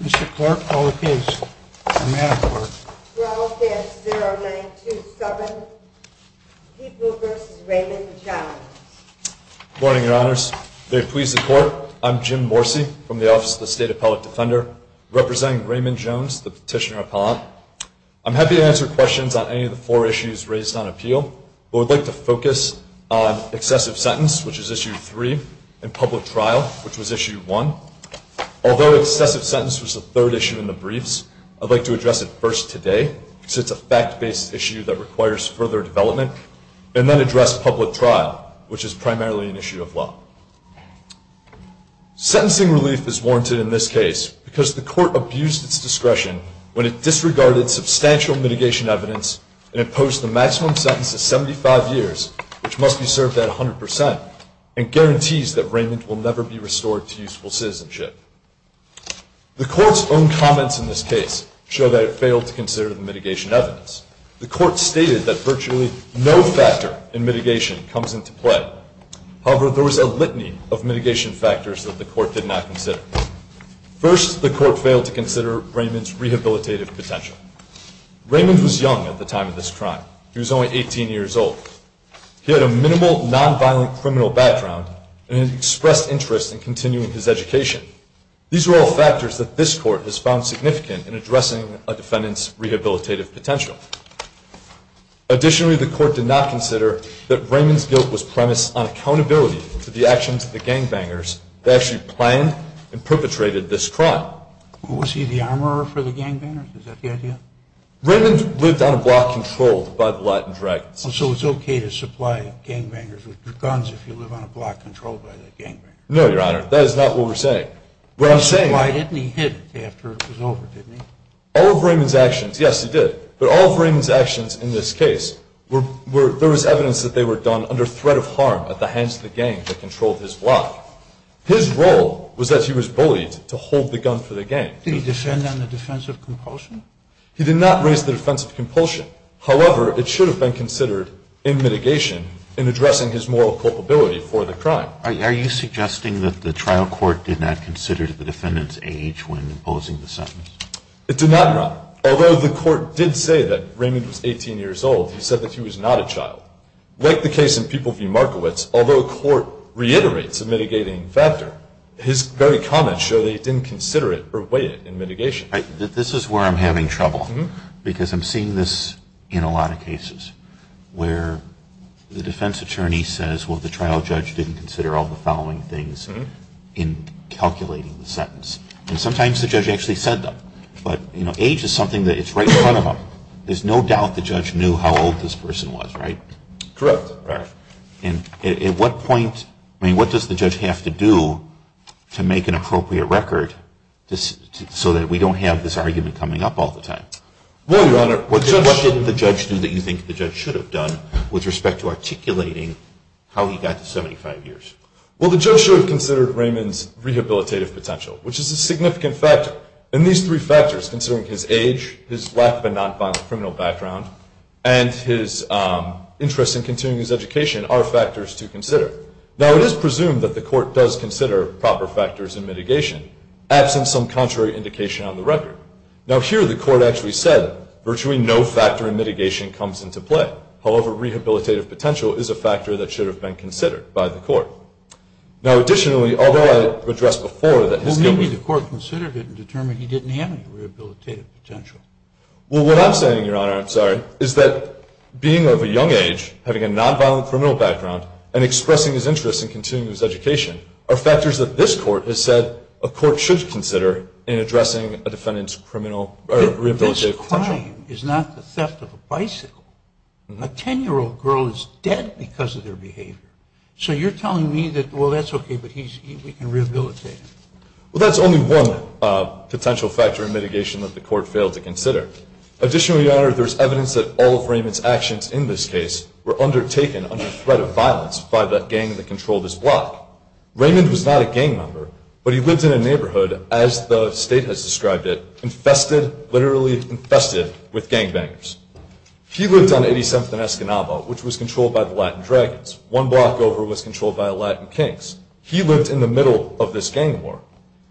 Mr. Clark, call the case. I'm Adam Clark. We're all case 0927, Pete Wilber v. Raymond Jones. Good morning, your honors. Very pleased to report, I'm Jim Morsi from the Office of the State Appellate Defender, representing Raymond Jones, the petitioner appellant. I'm happy to answer questions on any of the four issues raised on appeal, but would like to focus on excessive sentence, which is issue 3, and public trial, which was issue 1. Although excessive sentence was the third issue in the briefs, I'd like to address it first today, because it's a fact-based issue that requires further development, and then address public trial, which is primarily an issue of law. Sentencing relief is warranted in this case, because the court abused its discretion when it disregarded substantial mitigation evidence and imposed the maximum sentence of 75 years, which must be served at 100%, and guarantees that Raymond will never be restored to useful citizenship. The court's own comments in this case show that it failed to consider the mitigation evidence. The court stated that virtually no factor in mitigation comes into play. However, there was a litany of mitigation factors that the court did not consider. First, the court failed to consider Raymond's rehabilitative potential. Raymond was young at the time of this crime. He was only 18 years old. He had a minimal, nonviolent criminal background and expressed interest in continuing his education. These were all factors that this court has found significant in addressing a defendant's rehabilitative potential. Additionally, the court did not consider that Raymond's guilt was premised on accountability for the actions of the gangbangers that actually planned and perpetrated this crime. Was he the armorer for the gangbangers? Is that the idea? Raymond lived on a block controlled by the Latin Dragons. So it's okay to supply gangbangers with guns if you live on a block controlled by the gangbanger? No, Your Honor. That is not what we're saying. Why didn't he hit after it was over, didn't he? All of Raymond's actions, yes, he did. But all of Raymond's actions in this case, there was evidence that they were done under threat of harm at the hands of the gang that controlled his block. His role was that he was bullied to hold the gun for the gang. Did he defend on the defense of compulsion? He did not raise the defense of compulsion. However, it should have been considered in mitigation in addressing his moral culpability for the crime. Are you suggesting that the trial court did not consider the defendant's age when imposing the sentence? It did not, Your Honor. Although the court did say that Raymond was 18 years old, he said that he was not a child. Like the case in People v. Markowitz, although the court reiterates a mitigating factor, his very comments show that he didn't consider it or weigh it in mitigation. Judge, this is where I'm having trouble because I'm seeing this in a lot of cases where the defense attorney says, well, the trial judge didn't consider all the following things in calculating the sentence. And sometimes the judge actually said them. But, you know, age is something that's right in front of them. There's no doubt the judge knew how old this person was, right? Correct. At what point, I mean, what does the judge have to do to make an appropriate record so that we don't have this argument coming up all the time? Well, Your Honor, what did the judge do that you think the judge should have done with respect to articulating how he got to 75 years? Well, the judge should have considered Raymond's rehabilitative potential, which is a significant factor. And these three factors, considering his age, his lack of a nonviolent criminal background, and his interest in continuing his education, are factors to consider. Now, it is presumed that the court does consider proper factors in mitigation, absent some contrary indication on the record. Now, here the court actually said virtually no factor in mitigation comes into play. However, rehabilitative potential is a factor that should have been considered by the court. Now, additionally, although I addressed before that his guilt was... Well, maybe the court considered it and determined he didn't have any rehabilitative potential. Well, what I'm saying, Your Honor, I'm sorry, is that being of a young age, having a nonviolent criminal background, and expressing his interest in continuing his education are factors that this court has said a court should consider in addressing a defendant's rehabilitative potential. This crime is not the theft of a bicycle. A 10-year-old girl is dead because of their behavior. So you're telling me that, well, that's okay, but we can rehabilitate him. Well, that's only one potential factor in mitigation that the court failed to consider. Additionally, Your Honor, there's evidence that all of Raymond's actions in this case were undertaken under threat of violence by the gang that controlled this block. Raymond was not a gang member, but he lived in a neighborhood, as the State has described it, infested, literally infested, with gangbangers. He lived on 87th and Escanaba, which was controlled by the Latin Dragons. One block over was controlled by the Latin Kings. He lived in the middle of this gang war.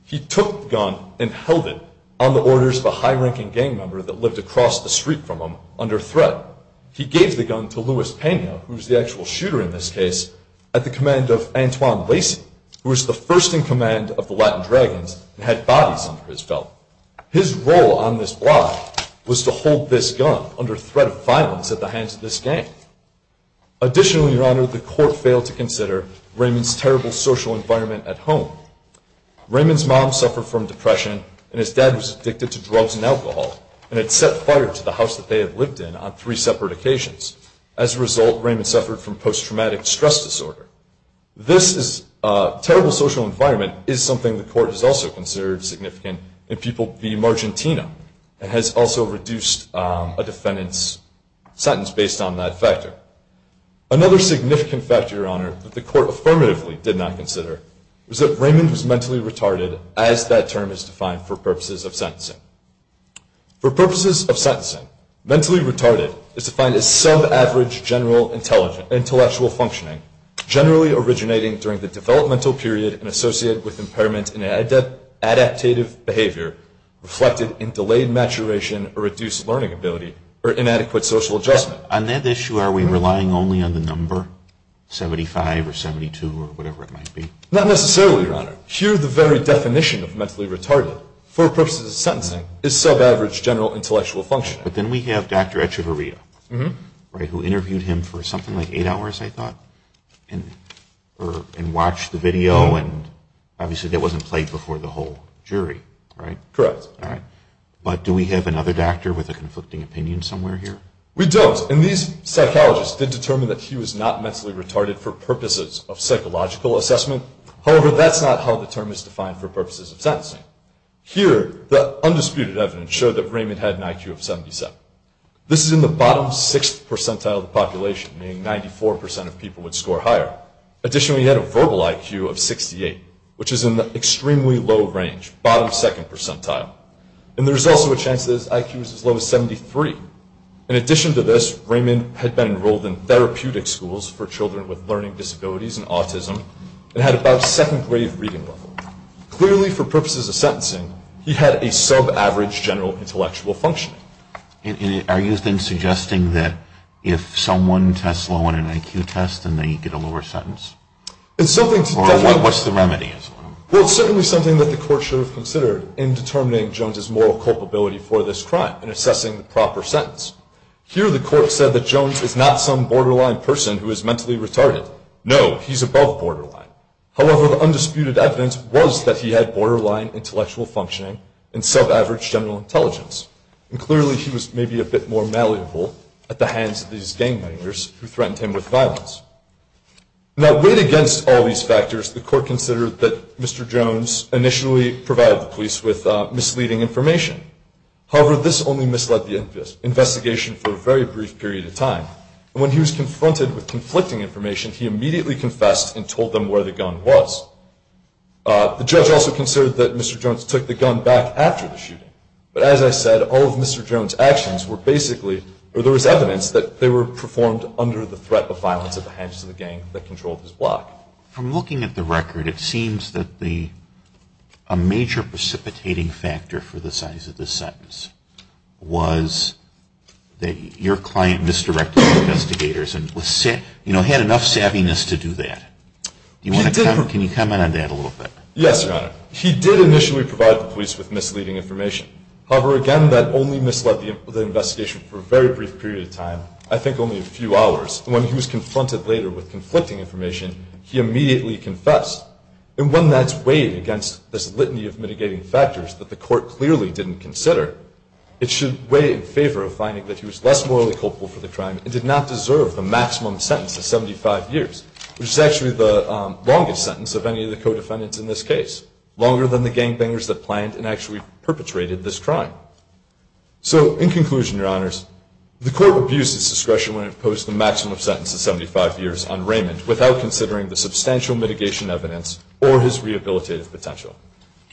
He took the gun and held it on the orders of a high-ranking gang member that lived across the street from him under threat. He gave the gun to Louis Pena, who was the actual shooter in this case, at the command of Antoine Lacy, who was the first in command of the Latin Dragons and had bodies under his belt. His role on this block was to hold this gun under threat of violence at the hands of this gang. Additionally, Your Honor, the court failed to consider Raymond's terrible social environment at home. Raymond's mom suffered from depression, and his dad was addicted to drugs and alcohol and had set fire to the house that they had lived in on three separate occasions. As a result, Raymond suffered from post-traumatic stress disorder. This terrible social environment is something the court has also considered significant in people v. Margentina and has also reduced a defendant's sentence based on that factor. Another significant factor, Your Honor, that the court affirmatively did not consider was that Raymond was mentally retarded, as that term is defined for purposes of sentencing. For purposes of sentencing, mentally retarded is defined as sub-average general intellectual functioning, generally originating during the developmental period and associated with impairment in an adaptative behavior reflected in delayed maturation or reduced learning ability or inadequate social adjustment. On that issue, are we relying only on the number, 75 or 72 or whatever it might be? Not necessarily, Your Honor. Here, the very definition of mentally retarded, for purposes of sentencing, is sub-average general intellectual functioning. But then we have Dr. Echevarria, right, who interviewed him for something like eight hours, I thought, and watched the video, and obviously that wasn't played before the whole jury, right? Correct. All right. But do we have another doctor with a conflicting opinion somewhere here? We don't, and these psychologists did determine that he was not mentally retarded for purposes of psychological assessment. However, that's not how the term is defined for purposes of sentencing. Here, the undisputed evidence showed that Raymond had an IQ of 77. This is in the bottom sixth percentile of the population, meaning 94% of people would score higher. Additionally, he had a verbal IQ of 68, which is in the extremely low range, bottom second percentile. And there's also a chance that his IQ is as low as 73. In addition to this, Raymond had been enrolled in therapeutic schools for children with learning disabilities and autism and had about second grade reading level. Clearly, for purposes of sentencing, he had a sub-average general intellectual functioning. And are you then suggesting that if someone tests low on an IQ test, then they get a lower sentence? It's something to definitely- Or what's the remedy? Well, it's certainly something that the court should have considered in determining Jones' moral culpability for this crime and assessing the proper sentence. Here, the court said that Jones is not some borderline person who is mentally retarded. No, he's above borderline. However, the undisputed evidence was that he had borderline intellectual functioning and sub-average general intelligence. And clearly, he was maybe a bit more malleable at the hands of these gang members who threatened him with violence. Now, weighed against all these factors, the court considered that Mr. Jones initially provided the police with misleading information. However, this only misled the investigation for a very brief period of time. And when he was confronted with conflicting information, he immediately confessed and told them where the gun was. The judge also considered that Mr. Jones took the gun back after the shooting. But as I said, all of Mr. Jones' actions were basically, or there was evidence that they were performed under the threat of violence at the hands of the gang that controlled his block. From looking at the record, it seems that a major precipitating factor for the size of this sentence was that your client misdirected the investigators and, you know, had enough savviness to do that. Can you comment on that a little bit? Yes, Your Honor. He did initially provide the police with misleading information. However, again, that only misled the investigation for a very brief period of time, I think only a few hours. And when he was confronted later with conflicting information, he immediately confessed. And when that's weighed against this litany of mitigating factors that the court clearly didn't consider, it should weigh in favor of finding that he was less morally culpable for the crime and did not deserve the maximum sentence of 75 years, which is actually the longest sentence of any of the co-defendants in this case, longer than the gangbangers that planned and actually perpetrated this crime. So in conclusion, Your Honors, the court abused its discretion when it imposed the maximum sentence of 75 years on Raymond without considering the substantial mitigation evidence or his rehabilitative potential.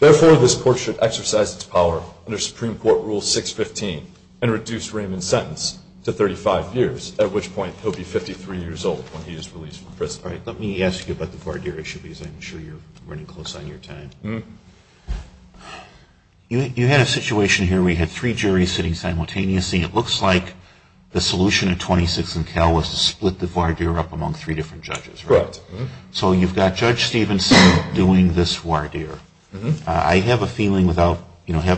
Therefore, this court should exercise its power under Supreme Court Rule 615 and reduce Raymond's sentence to 35 years, at which point he'll be 53 years old when he is released from prison. All right, let me ask you about the voir dire issue, because I'm sure you're running close on your time. You had a situation here where you had three juries sitting simultaneously. It looks like the solution in 26 and Cal was to split the voir dire up among three different judges. Correct. So you've got Judge Stevenson doing this voir dire. I have a feeling without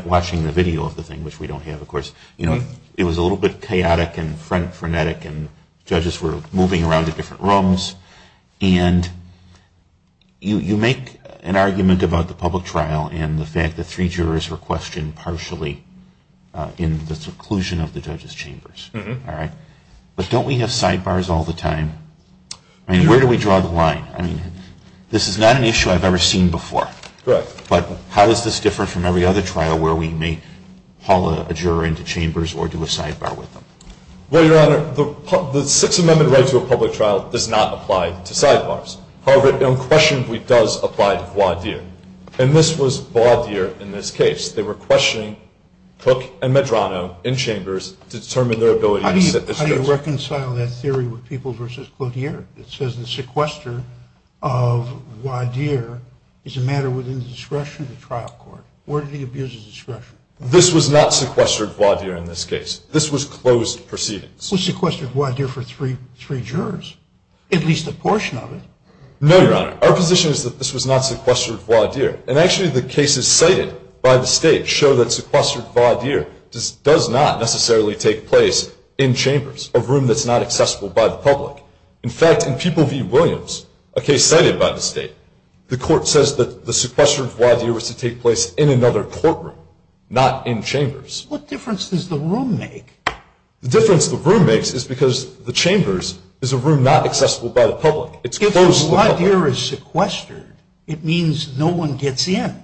watching the video of the thing, which we don't have, of course, you know, it was a little bit chaotic and frenetic, and judges were moving around to different rooms. And you make an argument about the public trial and the fact that three jurors were questioned partially in the seclusion of the judges' chambers. But don't we have sidebars all the time? I mean, where do we draw the line? I mean, this is not an issue I've ever seen before. Correct. But how does this differ from every other trial where we may haul a juror into chambers or do a sidebar with them? Well, Your Honor, the Sixth Amendment right to a public trial does not apply to sidebars. However, it unquestionably does apply to voir dire. And this was voir dire in this case. They were questioning Cook and Medrano in chambers to determine their ability to sit the case. How do you reconcile that theory with Peoples v. Cloutier? It says the sequester of voir dire is a matter within the discretion of the trial court. Where did he abuse his discretion? This was not sequestered voir dire in this case. This was closed proceedings. It was sequestered voir dire for three jurors, at least a portion of it. No, Your Honor. Our position is that this was not sequestered voir dire. And actually the cases cited by the state show that sequestered voir dire does not necessarily take place in chambers, a room that's not accessible by the public. In fact, in Peoples v. Williams, a case cited by the state, the court says that the sequestered voir dire was to take place in another courtroom, not in chambers. What difference does the room make? The difference the room makes is because the chambers is a room not accessible by the public. It's closed to the public. If voir dire is sequestered, it means no one gets in.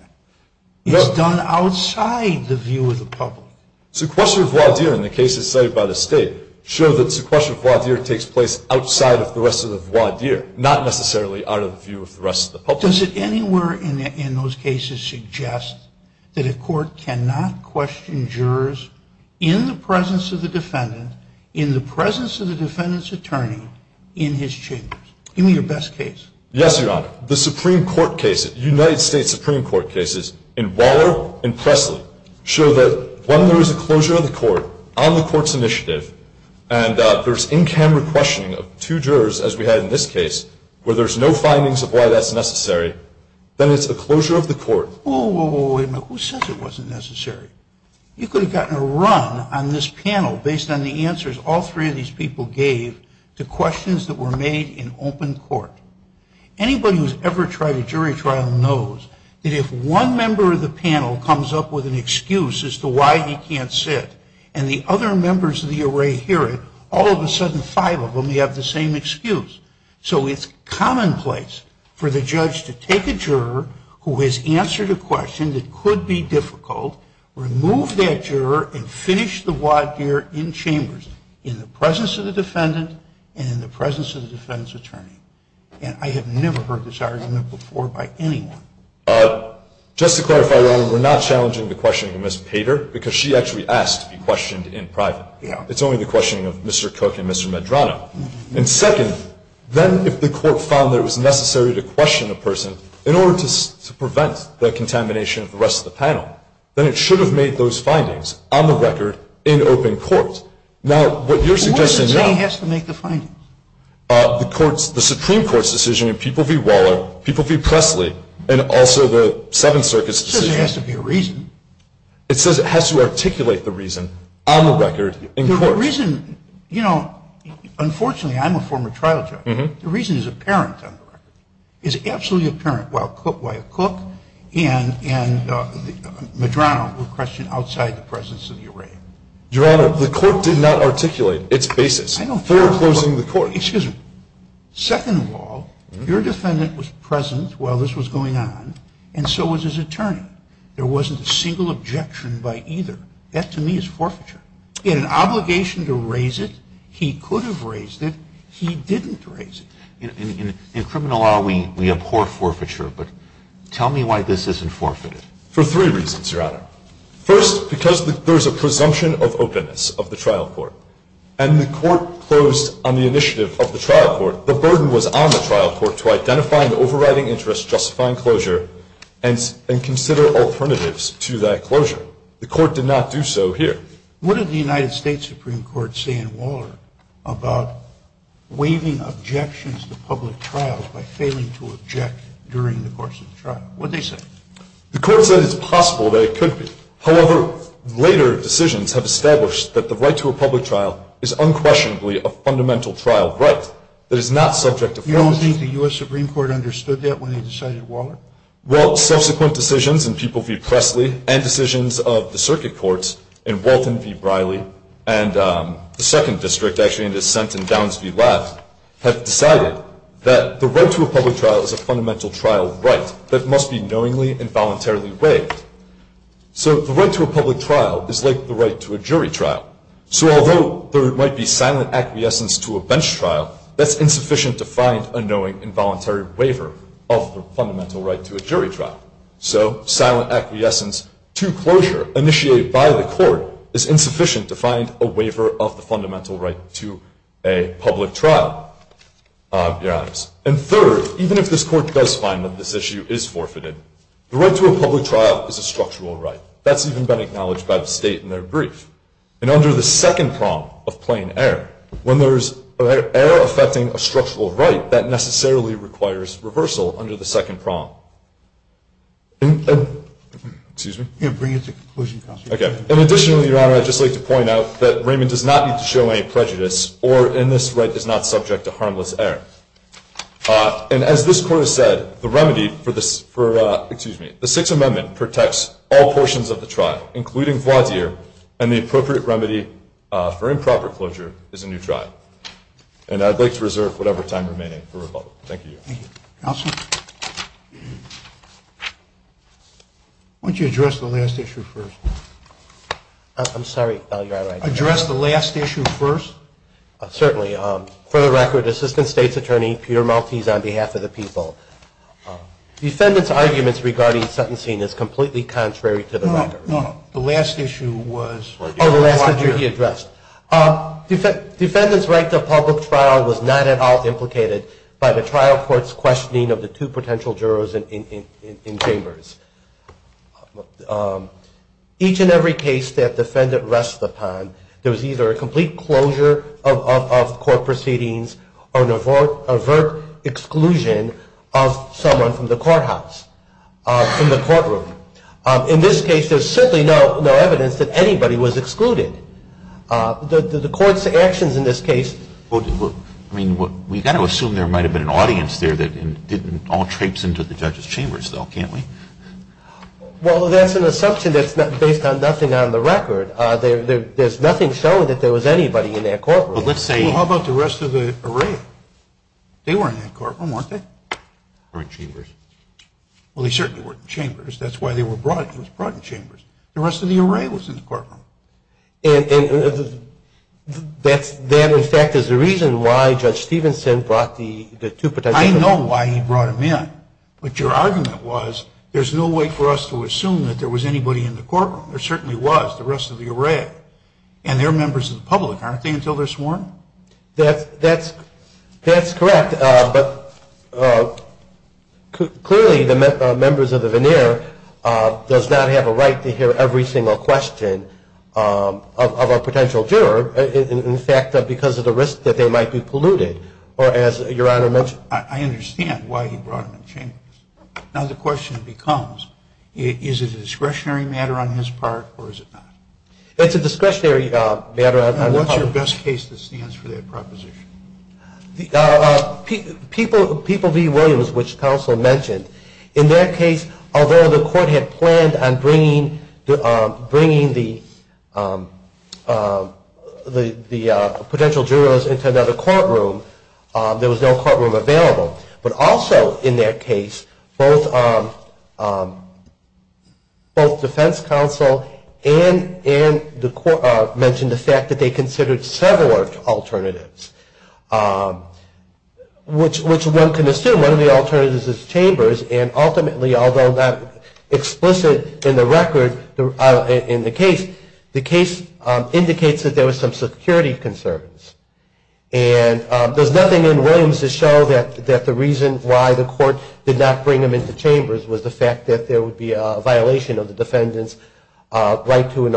It's done outside the view of the public. Sequestered voir dire in the cases cited by the state show that sequestered voir dire takes place outside of the rest of the voir dire, not necessarily out of the view of the rest of the public. Does it anywhere in those cases suggest that a court cannot question jurors in the presence of the defendant, in the presence of the defendant's attorney, in his chambers? Give me your best case. Yes, Your Honor. The Supreme Court cases, United States Supreme Court cases in Waller and Presley, show that when there is a closure of the court on the court's initiative and there's in-camera questioning of two jurors, as we had in this case, where there's no findings of why that's necessary, then it's a closure of the court. Whoa, whoa, whoa, wait a minute. Who says it wasn't necessary? You could have gotten a run on this panel based on the answers all three of these people gave to questions that were made in open court. Anybody who's ever tried a jury trial knows that if one member of the panel comes up with an excuse as to why he can't sit and the other members of the array hear it, all of a sudden five of them have the same excuse. So it's commonplace for the judge to take a juror who has answered a question that could be difficult, remove that juror, and finish the voir dire in chambers, in the presence of the defendant and in the presence of the defense attorney. And I have never heard this argument before by anyone. Just to clarify, Your Honor, we're not challenging the questioning of Ms. Pater because she actually asked to be questioned in private. It's only the questioning of Mr. Cook and Mr. Medrano. And second, then if the court found that it was necessary to question a person in order to prevent the contamination of the rest of the panel, then it should have made those findings on the record in open court. What does it say has to make the findings? The Supreme Court's decision in People v. Waller, People v. Presley, and also the Seventh Circuit's decision. It says it has to be a reason. It says it has to articulate the reason on the record in court. The reason, you know, unfortunately I'm a former trial judge. The reason is apparent on the record. It's absolutely apparent why Cook and Medrano were questioned outside the presence of the array. Your Honor, the court did not articulate its basis for closing the court. Excuse me. Second of all, your defendant was present while this was going on, and so was his attorney. There wasn't a single objection by either. That to me is forfeiture. He had an obligation to raise it. He could have raised it. He didn't raise it. In criminal law, we abhor forfeiture, but tell me why this isn't forfeited. For three reasons, Your Honor. First, because there is a presumption of openness of the trial court, and the court closed on the initiative of the trial court. The burden was on the trial court to identify an overriding interest justifying closure and consider alternatives to that closure. The court did not do so here. What did the United States Supreme Court say in Waller about waiving objections to public trials by failing to object during the course of the trial? What did they say? The court said it's possible that it could be. However, later decisions have established that the right to a public trial is unquestionably a fundamental trial right that is not subject to forcing. You don't think the U.S. Supreme Court understood that when they decided Waller? Well, subsequent decisions in People v. Presley and decisions of the circuit courts in Walton v. Briley and the second district actually in dissent in Downs v. Laft have decided that the right to a public trial is a fundamental trial right that must be knowingly and voluntarily waived. So the right to a public trial is like the right to a jury trial. So although there might be silent acquiescence to a bench trial, that's insufficient to find a knowing involuntary waiver of the fundamental right to a jury trial. So silent acquiescence to closure initiated by the court is insufficient to find a waiver of the fundamental right to a public trial, Your Honors. And third, even if this Court does find that this issue is forfeited, the right to a public trial is a structural right. That's even been acknowledged by the State in their brief. And under the second prong of plain error, when there's error affecting a structural right, that necessarily requires reversal under the second prong. And additionally, Your Honor, I'd just like to point out that Raymond does not need to show any prejudice or in this right is not subject to harmless error. And as this Court has said, the remedy for this, for, excuse me, the Sixth Amendment protects all portions of the trial, including voir dire, and the appropriate remedy for improper closure is a new trial. And I'd like to reserve whatever time remaining for rebuttal. Thank you, Your Honor. Thank you. Counsel? Why don't you address the last issue first? I'm sorry. Address the last issue first? Certainly. For the record, Assistant State's Attorney Peter Maltese, on behalf of the people, defendant's arguments regarding sentencing is completely contrary to the record. No, no. The last issue was? Oh, the last issue he addressed. Defendant's right to a public trial was not at all implicated by the trial court's questioning of the two potential jurors in chambers. Each and every case that defendant rests upon, there was either a complete closure of court proceedings or an overt exclusion of someone from the courthouse, from the courtroom. In this case, there's certainly no evidence that anybody was excluded. The Court's actions in this case? I mean, we've got to assume there might have been an audience there that didn't all traipse into the judge's chambers, though, can't we? Well, that's an assumption that's based on nothing on the record. There's nothing showing that there was anybody in that courtroom. Well, how about the rest of the array? They were in that courtroom, weren't they? They were in chambers. Well, they certainly were in chambers. That's why they were brought in. They were brought in chambers. The rest of the array was in the courtroom. And that, in fact, is the reason why Judge Stevenson brought the two potential jurors? I know why he brought them in. But your argument was there's no way for us to assume that there was anybody in the courtroom. There certainly was, the rest of the array. And they're members of the public, aren't they, until they're sworn? That's correct. But clearly the members of the veneer does not have a right to hear every single question of a potential juror, in fact, because of the risk that they might be polluted, or as Your Honor mentioned. I understand why he brought them in chambers. Now the question becomes, is it a discretionary matter on his part, or is it not? It's a discretionary matter. And what's your best case that stands for that proposition? People v. Williams, which counsel mentioned. In that case, although the court had planned on bringing the potential jurors into another courtroom, there was no courtroom available. But also in that case, both defense counsel and the court mentioned the fact that they considered several alternatives, which one can assume. One of the alternatives is chambers. And ultimately, although not explicit in the record, in the case, the case indicates that there was some security concerns. And there's nothing in Williams to show that the reason why the court did not bring them into chambers was the fact that there would be a violation of the defendant's right to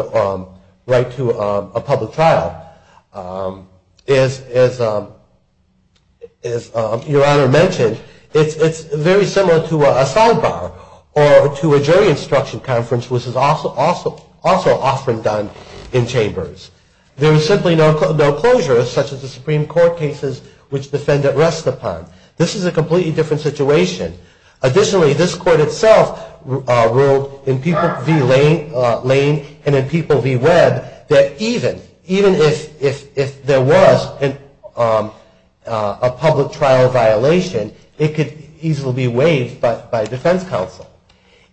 a public trial. As Your Honor mentioned, it's very similar to a sidebar or to a jury instruction conference, There is simply no closure, such as the Supreme Court cases, which defendant rests upon. This is a completely different situation. Additionally, this court itself ruled in people v. Lane and in people v. Webb, that even if there was a public trial violation, it could easily be waived by defense counsel.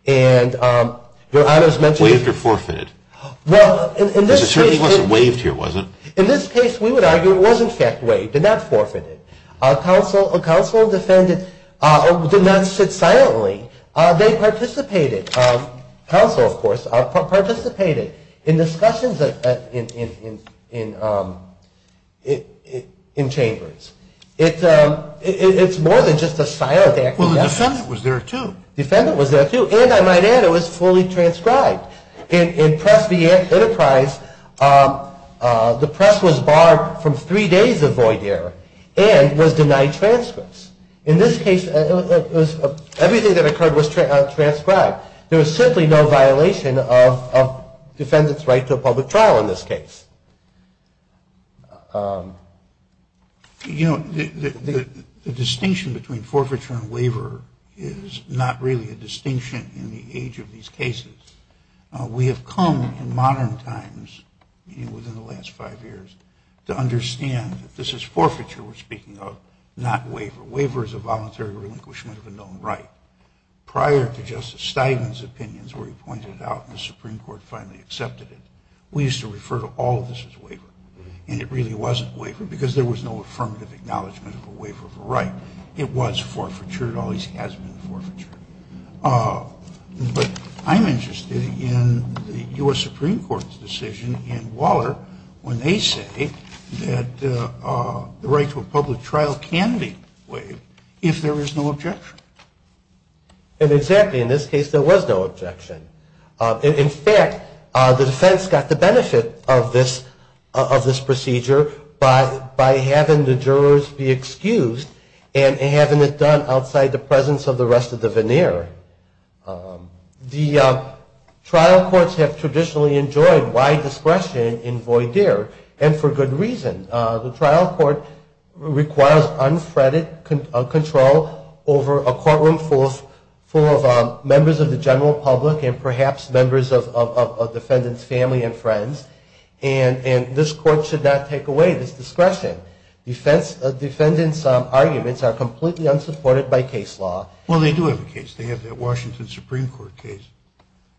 And Your Honor has mentioned Waived or forfeited? In this case, we would argue it was in fact waived and not forfeited. Counsel and defendant did not sit silently. They participated. Counsel, of course, participated in discussions in chambers. It's more than just a silent act of defense. Well, the defendant was there, too. The defendant was there, too. And I might add, it was fully transcribed. In Press v. Enterprise, the press was barred from three days of void error and was denied transcripts. In this case, everything that occurred was transcribed. There was simply no violation of defendant's right to a public trial in this case. You know, the distinction between forfeiture and waiver is not really a distinction in the age of these cases. We have come in modern times, within the last five years, to understand that this is forfeiture we're speaking of, not waiver. Waiver is a voluntary relinquishment of a known right. Prior to Justice Steigman's opinions, where he pointed it out and the Supreme Court finally accepted it, we used to refer to all of this as waiver. And it really wasn't waiver because there was no affirmative acknowledgement of a waiver of a right. It was forfeiture. It always has been forfeiture. But I'm interested in the U.S. Supreme Court's decision in Waller when they say that the right to a public trial can be waived if there is no objection. Exactly. In this case, there was no objection. In fact, the defense got the benefit of this procedure by having the jurors be excused and having it done outside the presence of the rest of the veneer. The trial courts have traditionally enjoyed wide discretion in voir dire and for good reason. The trial court requires unfettered control over a courtroom full of members of the general public and perhaps members of a defendant's family and friends. And this court should not take away this discretion. Defendants' arguments are completely unsupported by case law. Well, they do have a case. They have the Washington Supreme Court case.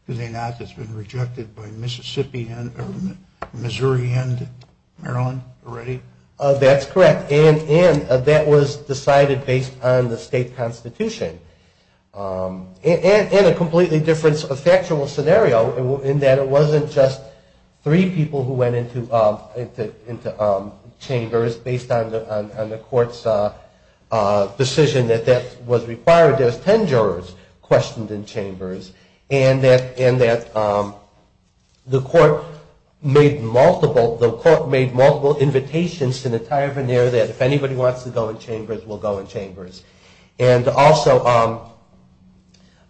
Do they not? That's been rejected by Mississippi and Missouri and Maryland already? That's correct. And that was decided based on the state constitution. And a completely different factual scenario in that it wasn't just three people who went into chambers based on the court's decision that that was required. There's ten jurors questioned in chambers and that the court made multiple invitations to the entire veneer that if anybody wants to go in chambers, we'll go in chambers. And also,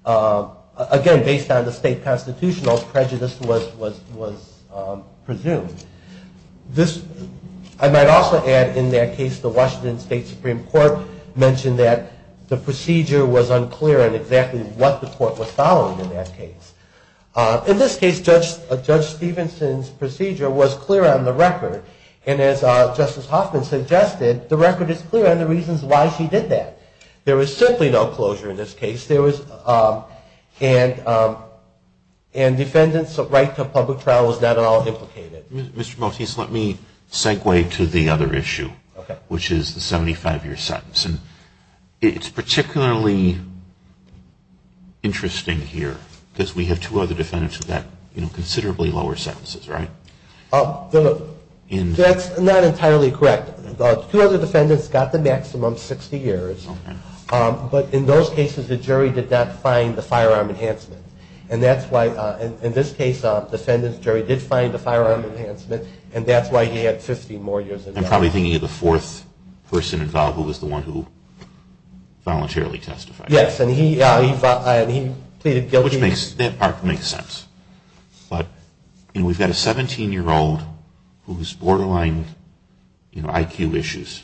again, based on the state constitutional, prejudice was presumed. I might also add in that case, the Washington State Supreme Court mentioned that the procedure was unclear on exactly what the court was following in that case. In this case, Judge Stevenson's procedure was clear on the record. And as Justice Hoffman suggested, the record is clear on the reasons why she did that. There was simply no closure in this case. And defendants' right to a public trial was not at all implicated. Mr. Motese, let me segue to the other issue, which is the 75-year sentence. It's particularly interesting here because we have two other defendants with considerably lower sentences, right? That's not entirely correct. Two other defendants got the maximum 60 years. But in those cases, the jury did not find the firearm enhancement. And that's why, in this case, the defendant's jury did find the firearm enhancement, and that's why he had 50 more years. I'm probably thinking of the fourth person involved, who was the one who voluntarily testified. Yes, and he pleaded guilty. That part makes sense. But, you know, we've got a 17-year-old who's borderline, you know, IQ issues,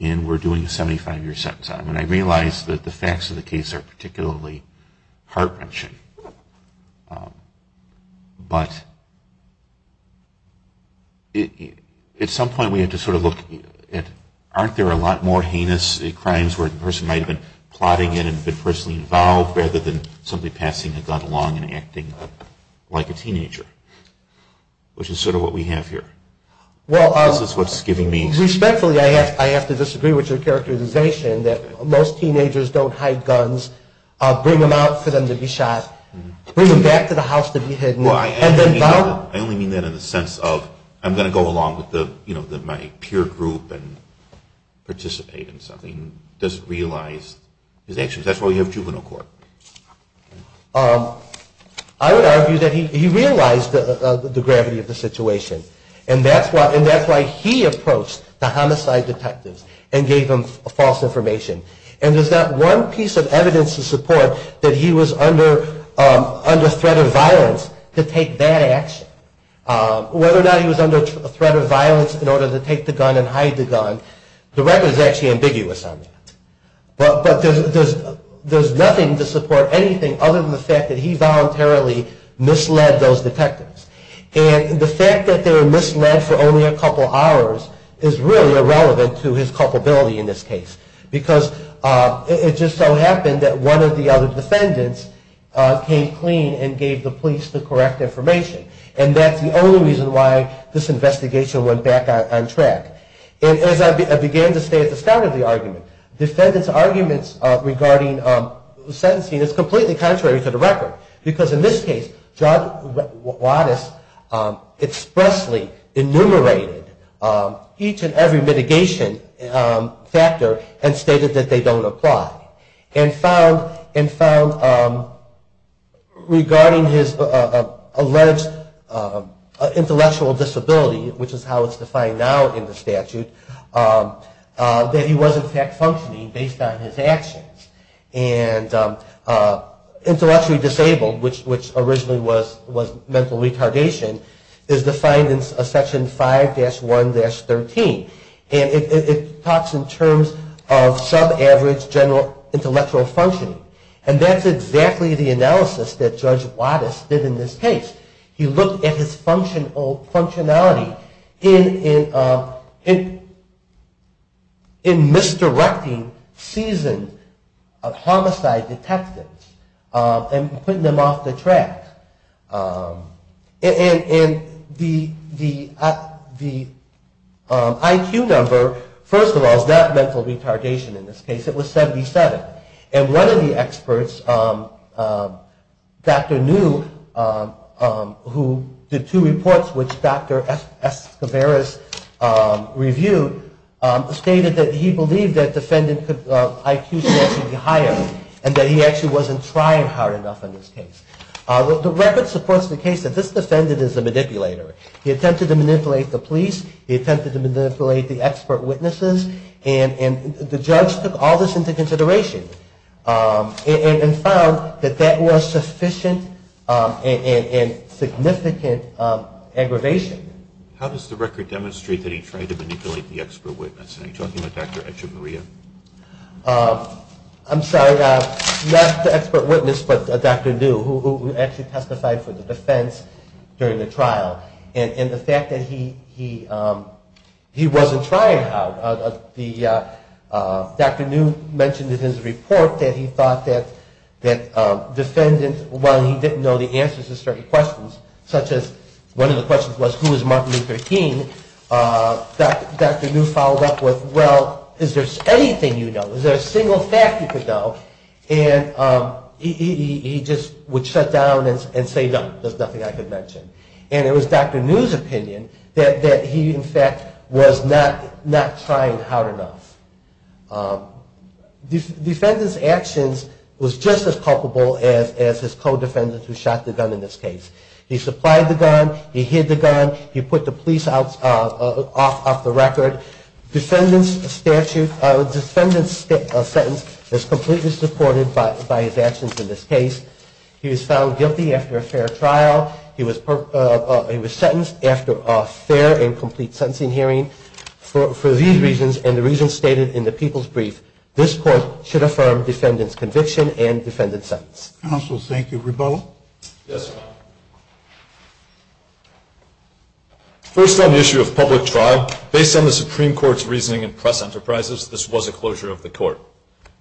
and we're doing a 75-year sentence on him. And I realize that the facts of the case are particularly heart-wrenching. But at some point we had to sort of look at, aren't there a lot more heinous crimes where the person might have been plotting it rather than simply passing a gun along and acting like a teenager, which is sort of what we have here. This is what's giving me... Respectfully, I have to disagree with your characterization that most teenagers don't hide guns, bring them out for them to be shot, bring them back to the house to be hidden. I only mean that in the sense of I'm going to go along with my peer group and participate in something. I don't mean that the person doesn't realize his actions. That's why we have juvenile court. I would argue that he realized the gravity of the situation, and that's why he approached the homicide detectives and gave them false information. And there's not one piece of evidence to support that he was under threat of violence to take that action. Whether or not he was under threat of violence in order to take the gun and hide the gun, the record is actually ambiguous on that. But there's nothing to support anything other than the fact that he voluntarily misled those detectives. And the fact that they were misled for only a couple hours is really irrelevant to his culpability in this case. Because it just so happened that one of the other defendants came clean and gave the police the correct information. And that's the only reason why this investigation went back on track. And as I began to stay at the start of the argument, defendants' arguments regarding sentencing is completely contrary to the record. Because in this case, Judge Wattis expressly enumerated each and every mitigation factor and stated that they don't apply. And found regarding his alleged intellectual disability, which is how it's defined now in the statute, that he was in fact functioning based on his actions. And intellectually disabled, which originally was mental retardation, is defined in Section 5-1-13. And it talks in terms of sub-average intellectual functioning. And that's exactly the analysis that Judge Wattis did in this case. He looked at his functionality in misdirecting seasoned homicide detectives and putting them off the track. And the IQ number, first of all, is not mental retardation in this case. It was 77. And one of the experts, Dr. New, who did two reports which Dr. Escobaras reviewed, stated that he believed that defendant's IQ should actually be higher. And that he actually wasn't trying hard enough in this case. The record supports the case that this defendant is a manipulator. He attempted to manipulate the police. He attempted to manipulate the expert witnesses. And the judge took all this into consideration and found that that was sufficient and significant aggravation. How does the record demonstrate that he tried to manipulate the expert witness? Are you talking about Dr. Echevarria? I'm sorry, not the expert witness, but Dr. New, who actually testified for the defense during the trial. And the fact that he wasn't trying hard. Dr. New mentioned in his report that he thought that defendant, while he didn't know the answers to certain questions, such as one of the questions was who is Martin Luther King, Dr. New followed up with, well, is there anything you know? Is there a single fact you could know? And he just would shut down and say, no, there's nothing I could mention. And it was Dr. New's opinion that he, in fact, was not trying hard enough. Defendant's actions was just as culpable as his co-defendant who shot the gun in this case. He supplied the gun, he hid the gun, he put the police off the record. Defendant's sentence was completely supported by his actions in this case. He was found guilty after a fair trial. He was sentenced after a fair and complete sentencing hearing. For these reasons, and the reasons stated in the people's brief, this court should affirm defendant's conviction and defendant's sentence. Counsel, thank you. Rebella? Yes, Your Honor. First on the issue of public trial, based on the Supreme Court's reasoning in press enterprises, this was a closure of the court.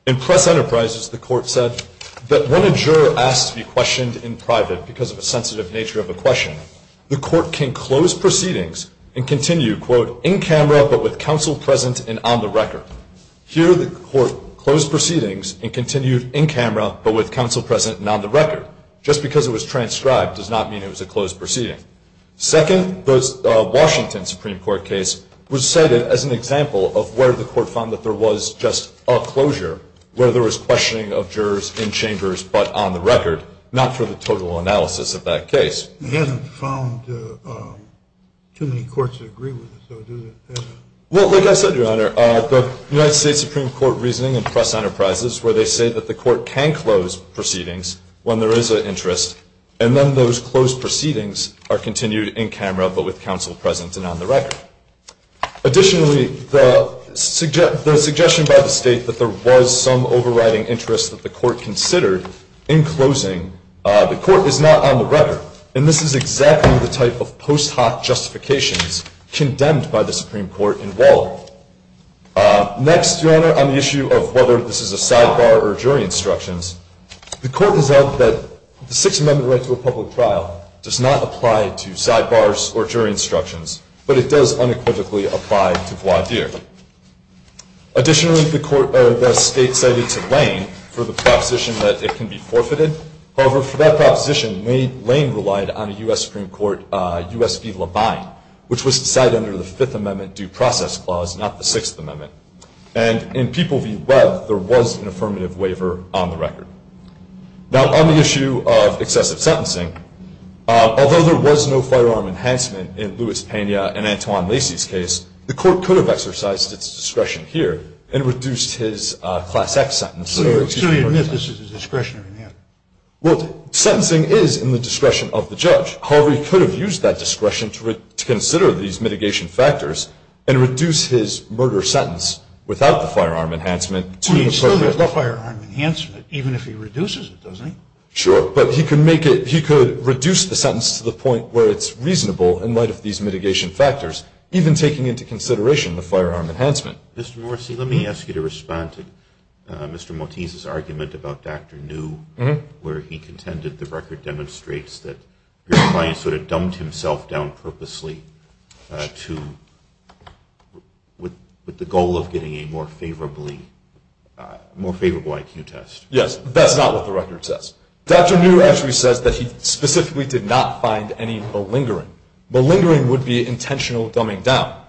In press enterprises, the court said that when a juror asks to be questioned in private because of a sensitive nature of a question, the court can close proceedings and continue, quote, in camera but with counsel present and on the record. Here, the court closed proceedings and continued in camera but with counsel present and on the record. Just because it was transcribed does not mean it was a closed proceeding. Second, the Washington Supreme Court case was cited as an example of where the court found that there was just a closure, where there was questioning of jurors in chambers but on the record, not for the total analysis of that case. It hasn't found too many courts agree with this, though, does it? Well, like I said, Your Honor, the United States Supreme Court reasoning in press enterprises, where they say that the court can close proceedings when there is an interest, and then those closed proceedings are continued in camera but with counsel present and on the record. Additionally, the suggestion by the State that there was some overriding interest that the court considered in closing, the court is not on the record. And this is exactly the type of post hoc justifications condemned by the Supreme Court in Waller. Next, Your Honor, on the issue of whether this is a sidebar or jury instructions, the court has held that the Sixth Amendment right to a public trial does not apply to sidebars or jury instructions, but it does unequivocally apply to voir dire. Additionally, the State cited to Lane for the proposition that it can be forfeited. However, for that proposition, Lane relied on a U.S. Supreme Court U.S. v. Labine, which was decided under the Fifth Amendment due process clause, not the Sixth Amendment. And in people v. Webb, there was an affirmative waiver on the record. Now, on the issue of excessive sentencing, although there was no firearm enhancement in Louis Pena and Antoine Lacy's case, the court could have exercised its discretion here and reduced his Class X sentence. So you're saying this is a discretionary matter? However, he could have used that discretion to consider these mitigation factors and reduce his murder sentence without the firearm enhancement to an appropriate level. Well, he still has the firearm enhancement, even if he reduces it, doesn't he? Sure. But he could reduce the sentence to the point where it's reasonable in light of these mitigation factors, even taking into consideration the firearm enhancement. Mr. Morrisey, let me ask you to respond to Mr. Mottese's argument about Dr. New, where he contended the record demonstrates that your client sort of dumbed himself down purposely with the goal of getting a more favorable IQ test. Yes, but that's not what the record says. Dr. New actually says that he specifically did not find any malingering. Malingering would be intentional dumbing down.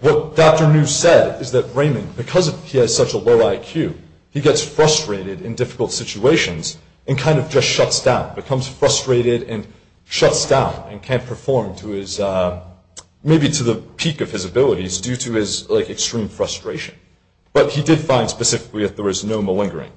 What Dr. New said is that Raymond, because he has such a low IQ, he gets frustrated in difficult situations and kind of just shuts down, becomes frustrated and shuts down and can't perform to his, maybe to the peak of his abilities due to his, like, extreme frustration. But he did find specifically that there was no malingering.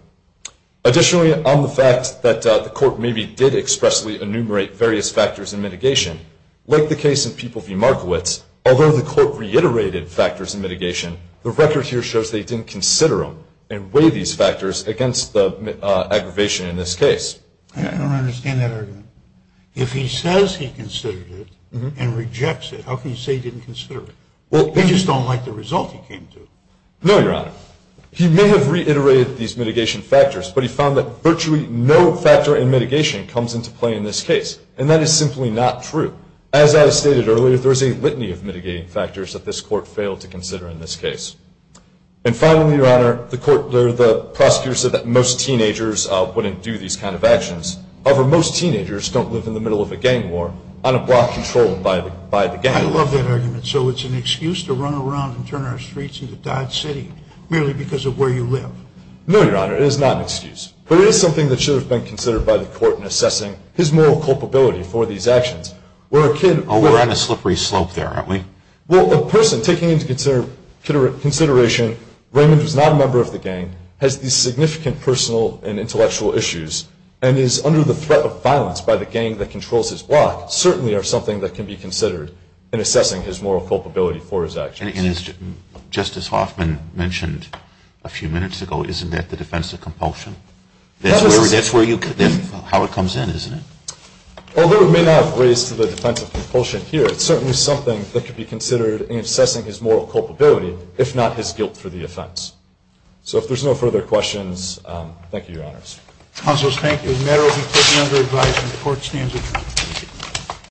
Additionally, on the fact that the court maybe did expressly enumerate various factors in mitigation, like the case in People v. Markowitz, although the court reiterated factors in mitigation, the record here shows they didn't consider them and weigh these factors against the aggravation in this case. I don't understand that argument. If he says he considered it and rejects it, how can you say he didn't consider it? Well, they just don't like the result he came to. No, Your Honor. He may have reiterated these mitigation factors, but he found that virtually no factor in mitigation comes into play in this case, and that is simply not true. As I stated earlier, there is a litany of mitigating factors that this court failed to consider in this case. And finally, Your Honor, the prosecutor said that most teenagers wouldn't do these kind of actions. However, most teenagers don't live in the middle of a gang war on a block controlled by the gang. I love that argument. So it's an excuse to run around and turn our streets into Dodge City merely because of where you live. No, Your Honor. It is not an excuse. But it is something that should have been considered by the court in assessing his moral culpability for these actions. Oh, we're on a slippery slope there, aren't we? Well, a person taking into consideration Raymond was not a member of the gang, has these significant personal and intellectual issues, and is under the threat of violence by the gang that controls his block, certainly are something that can be considered in assessing his moral culpability for his actions. And as Justice Hoffman mentioned a few minutes ago, isn't that the defense of compulsion? That's how it comes in, isn't it? Although it may not have raised to the defense of compulsion here, it's certainly something that could be considered in assessing his moral culpability, if not his guilt for the offense. So if there's no further questions, thank you, Your Honors. Counsel, thank you. The matter will be taken under advisement. The court stands adjourned.